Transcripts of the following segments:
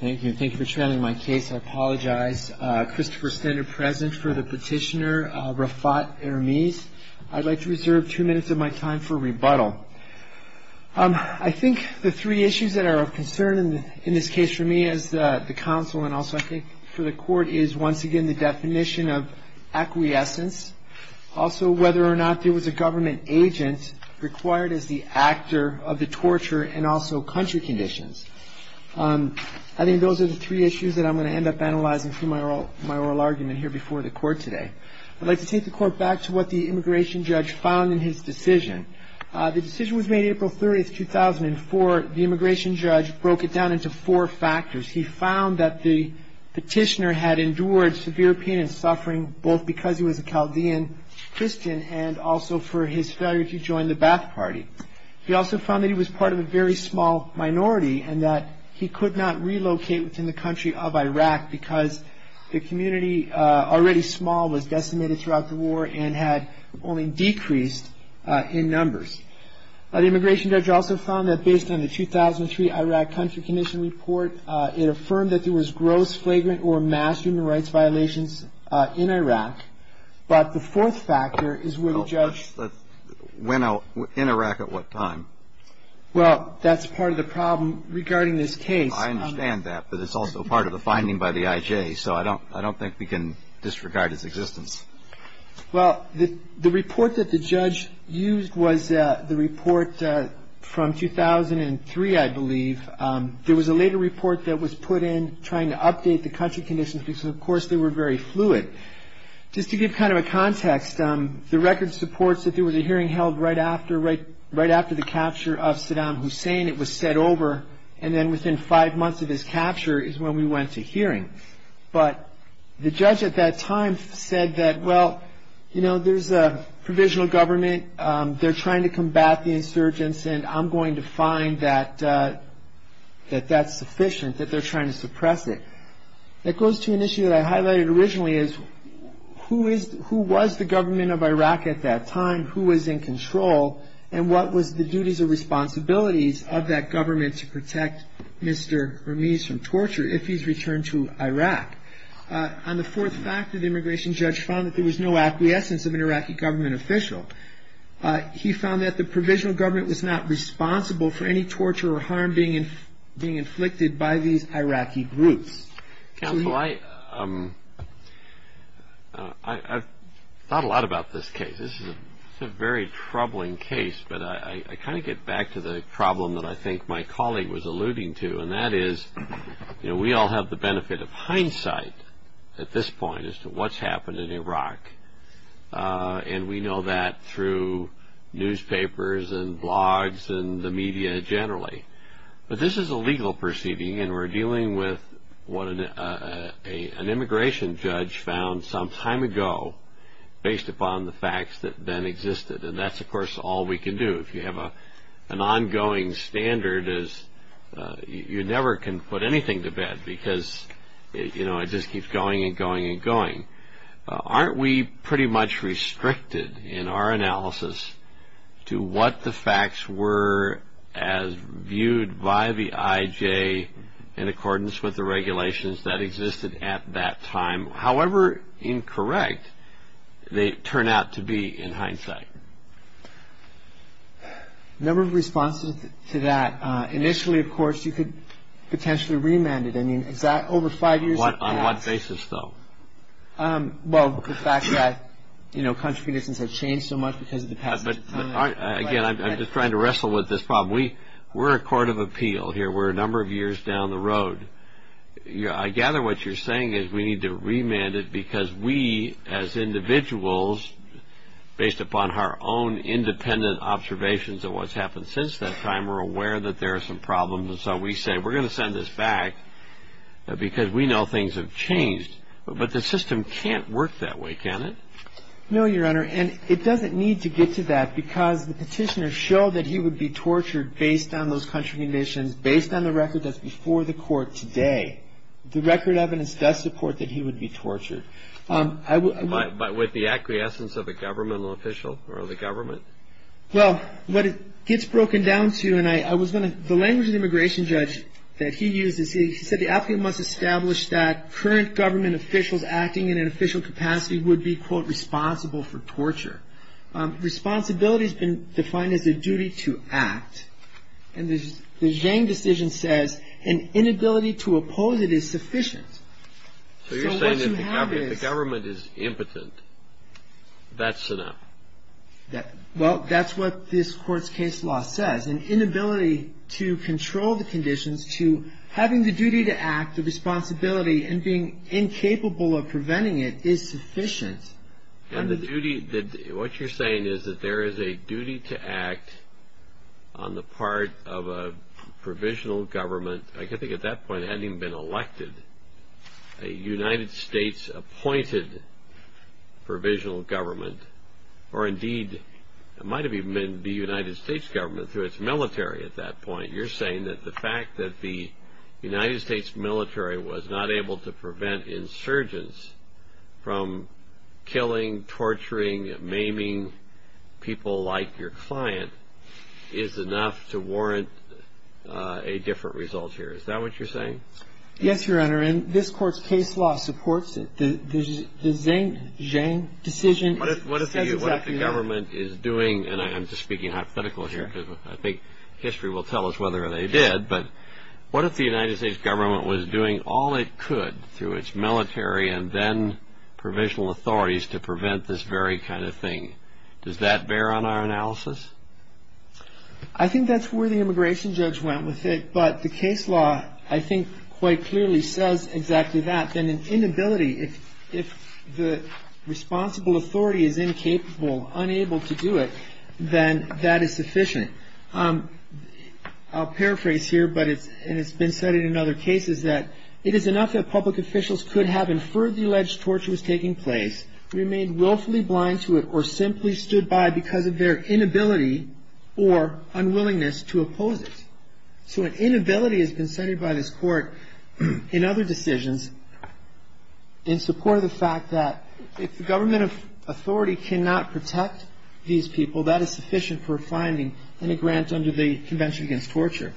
Thank you for trailing my case. I apologize. Christopher Stender present for the petitioner, Rafat Ermiz. I'd like to reserve two minutes of my time for rebuttal. I think the three issues that are of concern in this case for me as the counsel and also I think for the court is once again the definition of acquiescence. Also whether or not there was a government agent required as the actor of the torture and also country conditions. I think those are the three issues that I'm going to end up analyzing through my oral argument here before the court today. I'd like to take the court back to what the immigration judge found in his decision. The decision was made April 30, 2004. The immigration judge broke it down into four factors. He found that the petitioner had endured severe pain and suffering both because he was a Chaldean Christian and also for his failure to join the Ba'ath Party. He also found that he was part of a very small minority and that he could not relocate within the country of Iraq because the community already small was decimated throughout the war and had only decreased in numbers. The immigration judge also found that based on the 2003 Iraq Country Condition Report it affirmed that there was gross flagrant or mass human rights violations in Iraq. But the fourth factor is where the judge. When in Iraq at what time? Well that's part of the problem regarding this case. I understand that but it's also part of the finding by the IJ so I don't I don't think we can disregard his existence. Well the report that the judge used was the report from 2003 I believe. There was a later report that was put in trying to update the country conditions because of course they were very fluid. Just to give kind of a context the record supports that there was a hearing held right after right right after the capture of Saddam Hussein. It was said over and then within five months of his capture is when we went to hearing. But the judge at that time said that well you know there's a provisional government. They're trying to combat the insurgents and I'm going to find that that that's sufficient that they're trying to suppress it. That goes to an issue that I highlighted originally is who is who was the government of Iraq at that time? Who was in control and what was the duties or responsibilities of that government to protect Mr. Ramiz from torture if he's returned to Iraq? On the fourth factor the immigration judge found that there was no acquiescence of an Iraqi government official. He found that the provisional government was not responsible for any torture or harm being being inflicted by these Iraqi groups. Counsel I thought a lot about this case. This is a very troubling case but I kind of get back to the problem that I think my colleague was alluding to. And that is you know we all have the benefit of hindsight at this point as to what's happened in Iraq. And we know that through newspapers and blogs and the media generally. But this is a legal proceeding and we're dealing with what an immigration judge found some time ago based upon the facts that then existed. And that's of course all we can do. If you have an ongoing standard you never can put anything to bed because it just keeps going and going and going. Aren't we pretty much restricted in our analysis to what the facts were as viewed by the IJ in accordance with the regulations that existed at that time? However incorrect they turn out to be in hindsight. A number of responses to that. Initially of course you could potentially remand it. I mean is that over five years? On what basis though? Well the fact that you know country citizens have changed so much because of the past. But again I'm just trying to wrestle with this problem. We're a court of appeal here. We're a number of years down the road. I gather what you're saying is we need to remand it because we as individuals based upon our own independent observations of what's happened since that time are aware that there are some problems and so we say we're going to send this back because we know things have changed. But the system can't work that way, can it? No, Your Honor. And it doesn't need to get to that because the petitioner showed that he would be tortured based on those country conditions, based on the record that's before the court today. The record evidence does support that he would be tortured. But with the acquiescence of a governmental official or the government? Well, what it gets broken down to, and I was going to, the language of the immigration judge that he used, he said the applicant must establish that current government officials acting in an official capacity would be, quote, responsible for torture. Responsibility has been defined as a duty to act. And the Zhang decision says an inability to oppose it is sufficient. So what you have is. So you're saying that if the government is impotent, that's enough? Well, that's what this court's case law says. An inability to control the conditions to having the duty to act, the responsibility, and being incapable of preventing it is sufficient. And the duty, what you're saying is that there is a duty to act on the part of a provisional government. I think at that point it hadn't even been elected. A United States appointed provisional government, or indeed it might have even been the United States government through its military at that point. You're saying that the fact that the United States military was not able to prevent insurgents from killing, torturing, maiming people like your client is enough to warrant a different result here. Is that what you're saying? Yes, Your Honor. And this court's case law supports it. The Zhang decision says exactly that. What if the government is doing, and I'm just speaking hypothetically here, because I think history will tell us whether they did, but what if the United States government was doing all it could through its military and then provisional authorities to prevent this very kind of thing? Does that bear on our analysis? I think that's where the immigration judge went with it. But the case law, I think, quite clearly says exactly that. Then an inability, if the responsible authority is incapable, unable to do it, then that is sufficient. I'll paraphrase here, and it's been cited in other cases, that it is enough that public officials could have inferred the alleged torture was taking place, remained willfully blind to it, or simply stood by because of their inability or unwillingness to oppose it. So an inability has been cited by this court in other decisions in support of the fact that if the government authority cannot protect these people, that is sufficient for finding any grant under the Convention Against Torture.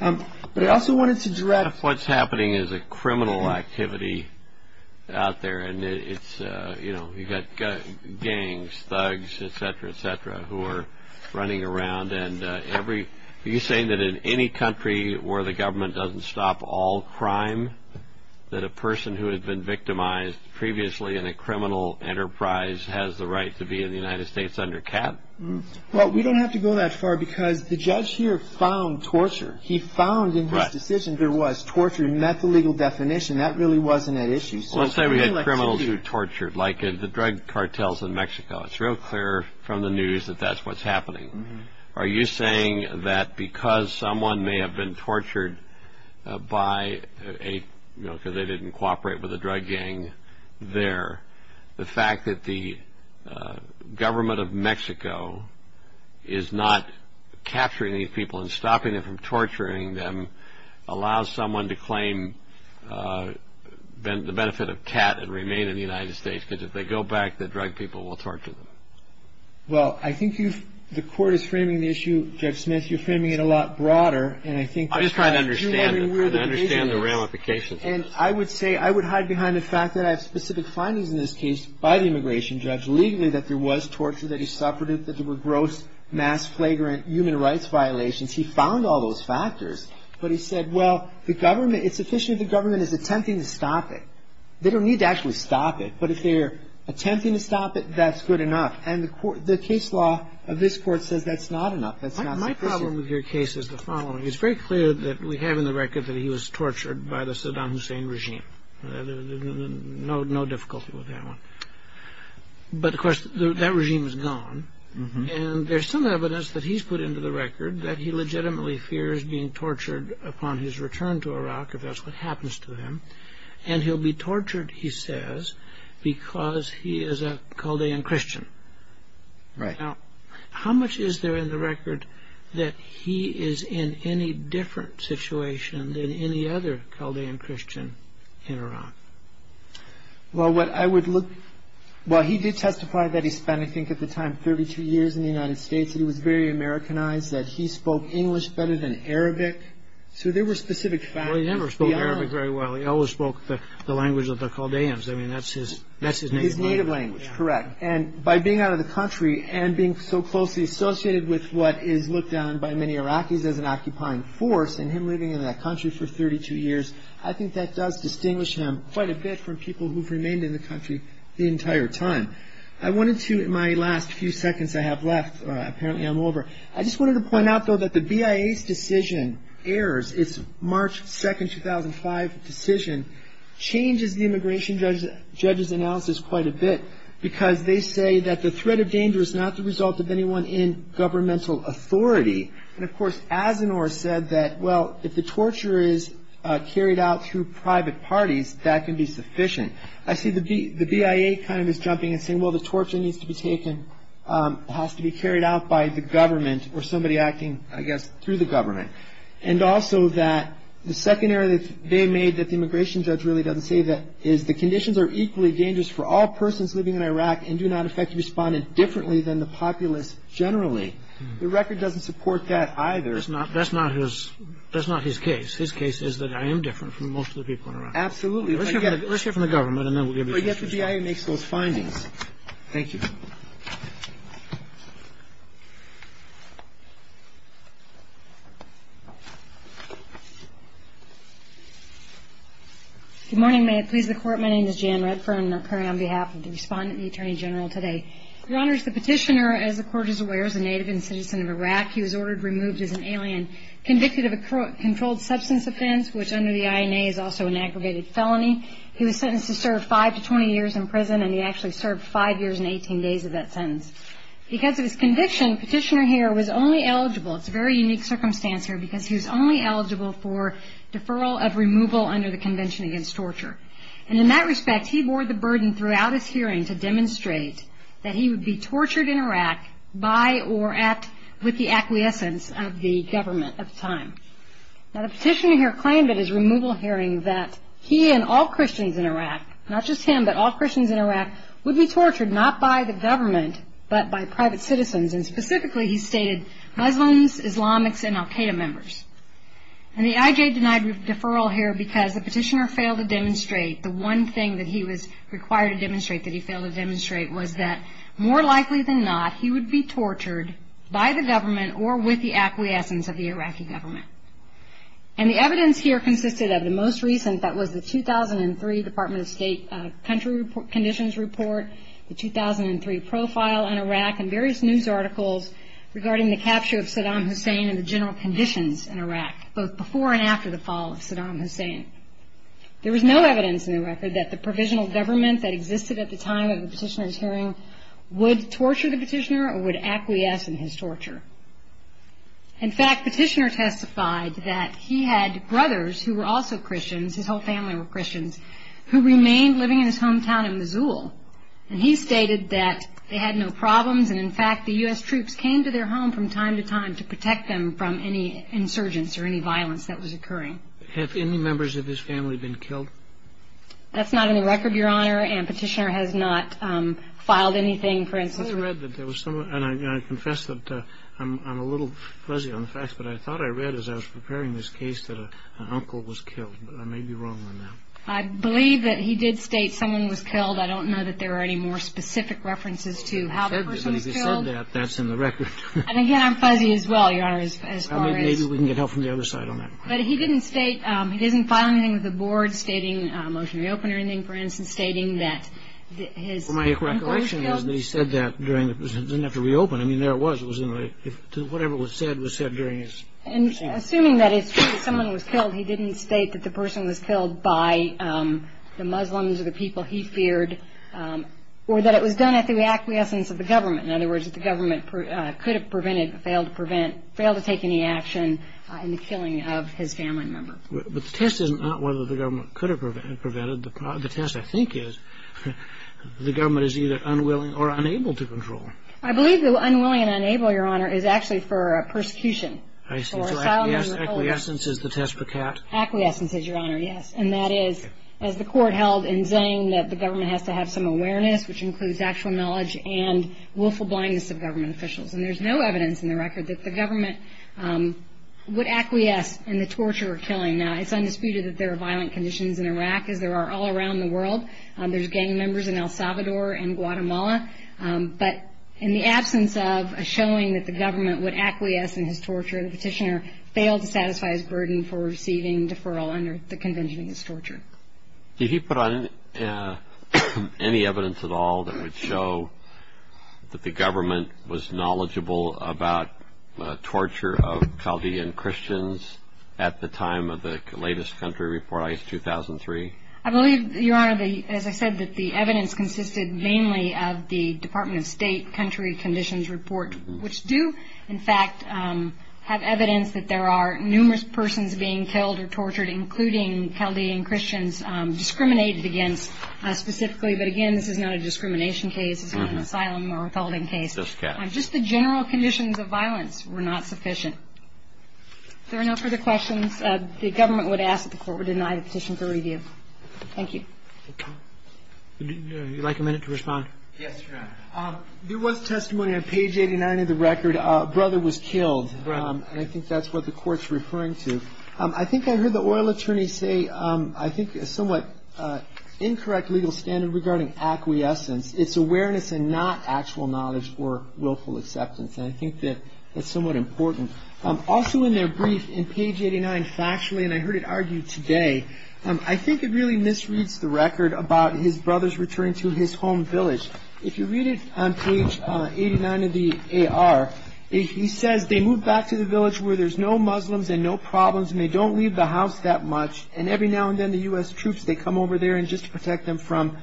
But I also wanted to direct- What's happening is a criminal activity out there, and you've got gangs, thugs, et cetera, et cetera, who are running around. Are you saying that in any country where the government doesn't stop all crime, that a person who had been victimized previously in a criminal enterprise has the right to be in the United States under cap? Well, we don't have to go that far because the judge here found torture. He found in his decision there was torture. He met the legal definition. That really wasn't an issue. Let's say we had criminals who tortured, like the drug cartels in Mexico. It's real clear from the news that that's what's happening. Are you saying that because someone may have been tortured by a- because they didn't cooperate with a drug gang there, the fact that the government of Mexico is not capturing these people and stopping them from torturing them allows someone to claim the benefit of cat and remain in the United States because if they go back, the drug people will torture them? Well, I think you've-the court is framing the issue, Judge Smith, you're framing it a lot broader, and I think- I'm just trying to understand it. I'm trying to understand the ramifications of this. And I would say-I would hide behind the fact that I have specific findings in this case by the immigration judge legally that there was torture, that he suffered it, that there were gross, mass, flagrant human rights violations. He found all those factors, but he said, well, the government- it's sufficient the government is attempting to stop it. They don't need to actually stop it, but if they're attempting to stop it, that's good enough. And the case law of this court says that's not enough. That's not sufficient. My problem with your case is the following. It's very clear that we have in the record that he was tortured by the Saddam Hussein regime. No difficulty with that one. But, of course, that regime is gone, and there's some evidence that he's put into the record that he legitimately fears being tortured upon his return to Iraq, if that's what happens to him, and he'll be tortured, he says, because he is a Chaldean Christian. Right. Now, how much is there in the record that he is in any different situation than any other Chaldean Christian in Iraq? Well, what I would look-well, he did testify that he spent, I think at the time, 32 years in the United States, and he was very Americanized, that he spoke English better than Arabic. So there were specific factors beyond- Well, he never spoke Arabic very well. He always spoke the language of the Chaldeans. I mean, that's his native language. His native language, correct. And by being out of the country and being so closely associated with what is looked on by many Iraqis as an occupying force and him living in that country for 32 years, I think that does distinguish him quite a bit from people who've remained in the country the entire time. I wanted to, in my last few seconds I have left, apparently I'm over, I just wanted to point out, though, that the BIA's decision, AIRS, its March 2, 2005 decision, changes the immigration judge's analysis quite a bit because they say that the threat of danger is not the result of anyone in governmental authority. And, of course, Asanoor said that, well, if the torture is carried out through private parties, that can be sufficient. I see the BIA kind of is jumping and saying, well, the torture needs to be taken, has to be carried out by the government or somebody acting, I guess, through the government. And also that the second error that they made that the immigration judge really doesn't say that is the conditions are equally dangerous for all persons living in Iraq and do not effectively respond differently than the populace generally. The record doesn't support that either. That's not his case. His case is that I am different from most of the people in Iraq. Absolutely. Let's hear from the government and then we'll give you the decision. But yet the BIA makes those findings. Thank you. Good morning. May it please the Court. My name is Jan Redfern. I'm occurring on behalf of the Respondent and the Attorney General today. Your Honor, as the Petitioner, as the Court is aware, is a native and citizen of Iraq. He was ordered removed as an alien, convicted of a controlled substance offense, which under the INA is also an aggravated felony. He was sentenced to serve five to 20 years in prison, and he actually served five years and 18 days of that sentence. Because of his conviction, Petitioner Heer was only eligible, it's a very unique circumstance here, because he was only eligible for deferral of removal under the Convention Against Torture. And in that respect, he bore the burden throughout his hearing to demonstrate that he would be tortured in Iraq by or at, with the acquiescence of the government of the time. Now, the Petitioner here claimed at his removal hearing that he and all Christians in Iraq, not just him but all Christians in Iraq, would be tortured not by the government but by private citizens, and specifically he stated Muslims, Islamics, and Al-Qaeda members. And the IJ denied deferral here because the Petitioner failed to demonstrate the one thing that he was required to demonstrate that he failed to demonstrate was that more likely than not, he would be tortured by the government or with the acquiescence of the Iraqi government. And the evidence here consisted of the most recent, that was the 2003 Department of State Country Conditions Report, the 2003 profile on Iraq, and various news articles regarding the capture of Saddam Hussein and the general conditions in Iraq, both before and after the fall of Saddam Hussein. There was no evidence in the record that the provisional government that existed at the time of the Petitioner's hearing would torture the Petitioner or would acquiesce in his torture. In fact, Petitioner testified that he had brothers who were also Christians, his whole family were Christians, who remained living in his hometown in Missoula. And he stated that they had no problems, and in fact the U.S. troops came to their home from time to time to protect them from any insurgents or any violence that was occurring. Have any members of his family been killed? That's not in the record, Your Honor, and Petitioner has not filed anything, for instance. I thought I read that there was someone, and I confess that I'm a little fuzzy on the facts, but I thought I read as I was preparing this case that an uncle was killed, but I may be wrong on that. I believe that he did state someone was killed. I don't know that there are any more specific references to how the person was killed. But if he said that, that's in the record. And again, I'm fuzzy as well, Your Honor, as far as... Maybe we can get help from the other side on that. But he didn't state, he didn't file anything with the board stating a motion to reopen or anything, for instance, stating that his uncle was killed. My recollection is that he said that during, he didn't have to reopen. I mean, there it was. It was in the, whatever was said was said during his... Assuming that it's true that someone was killed, he didn't state that the person was killed by the Muslims or the people he feared or that it was done at the acquiescence of the government. In other words, that the government could have prevented, failed to prevent, the assassination and the killing of his family member. But the test is not whether the government could have prevented. The test, I think, is the government is either unwilling or unable to control. I believe the unwilling and unable, Your Honor, is actually for persecution. I see. So acquiescence is the test for cat. Acquiescence is, Your Honor, yes. And that is, as the court held in saying that the government has to have some awareness, which includes actual knowledge and willful blindness of government officials. And there's no evidence in the record that the government would acquiesce in the torture or killing. Now, it's undisputed that there are violent conditions in Iraq, as there are all around the world. There's gang members in El Salvador and Guatemala. But in the absence of a showing that the government would acquiesce in his torture, the petitioner failed to satisfy his burden for receiving deferral under the convention of his torture. Did he put on any evidence at all that would show that the government was knowledgeable about torture of Chaldean Christians at the time of the latest country report, ICE 2003? I believe, Your Honor, as I said, that the evidence consisted mainly of the Department of State country conditions report, which do, in fact, have evidence that there are numerous persons being killed or tortured, including Chaldean Christians, discriminated against specifically. But, again, this is not a discrimination case. This is not an asylum or withholding case. Just the general conditions of violence were not sufficient. If there are no further questions, the government would ask that the court would deny the petition for review. Thank you. Would you like a minute to respond? Yes, Your Honor. There was testimony on page 89 of the record. A brother was killed. And I think that's what the court's referring to. I think I heard the oil attorney say I think a somewhat incorrect legal standard regarding acquiescence. It's awareness and not actual knowledge or willful acceptance. And I think that that's somewhat important. Also in their brief, in page 89, factually, and I heard it argued today, I think it really misreads the record about his brother's return to his home village. If you read it on page 89 of the AR, he says they moved back to the village where there's no Muslims and no problems, and they don't leave the house that much, and every now and then the U.S. troops, they come over there just to protect them from,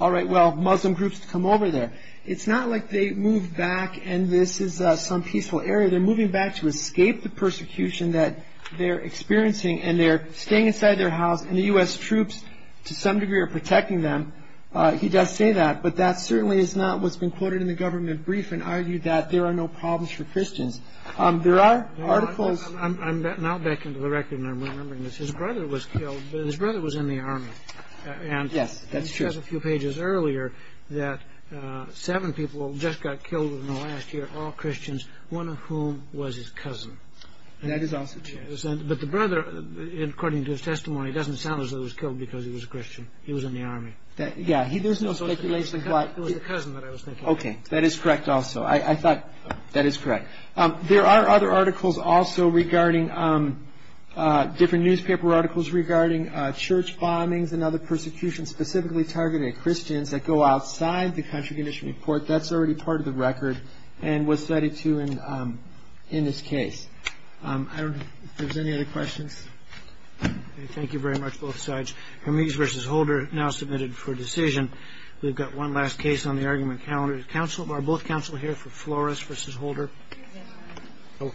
all right, well, Muslim groups come over there. It's not like they moved back and this is some peaceful area. They're moving back to escape the persecution that they're experiencing, and they're staying inside their house, and the U.S. troops, to some degree, are protecting them. He does say that. But that certainly is not what's been quoted in the government brief and argued that there are no problems for Christians. There are articles. I'm now back into the record, and I'm remembering this. His brother was killed. His brother was in the Army. Yes, that's true. And he says a few pages earlier that seven people just got killed in the last year, all Christians, one of whom was his cousin. That is also true. But the brother, according to his testimony, doesn't sound as though he was killed because he was a Christian. He was in the Army. Yeah. There's no speculation. It was the cousin that I was thinking of. Okay. That is correct also. I thought that is correct. There are other articles also regarding different newspaper articles regarding church bombings and other persecutions specifically targeted at Christians that go outside the country commission report. That's already part of the record and was cited, too, in this case. I don't know if there's any other questions. Okay. Thank you very much, both sides. Hermes v. Holder now submitted for decision. We've got one last case on the argument calendar. Are both counsel here for Flores v. Holder? Yes. Okay.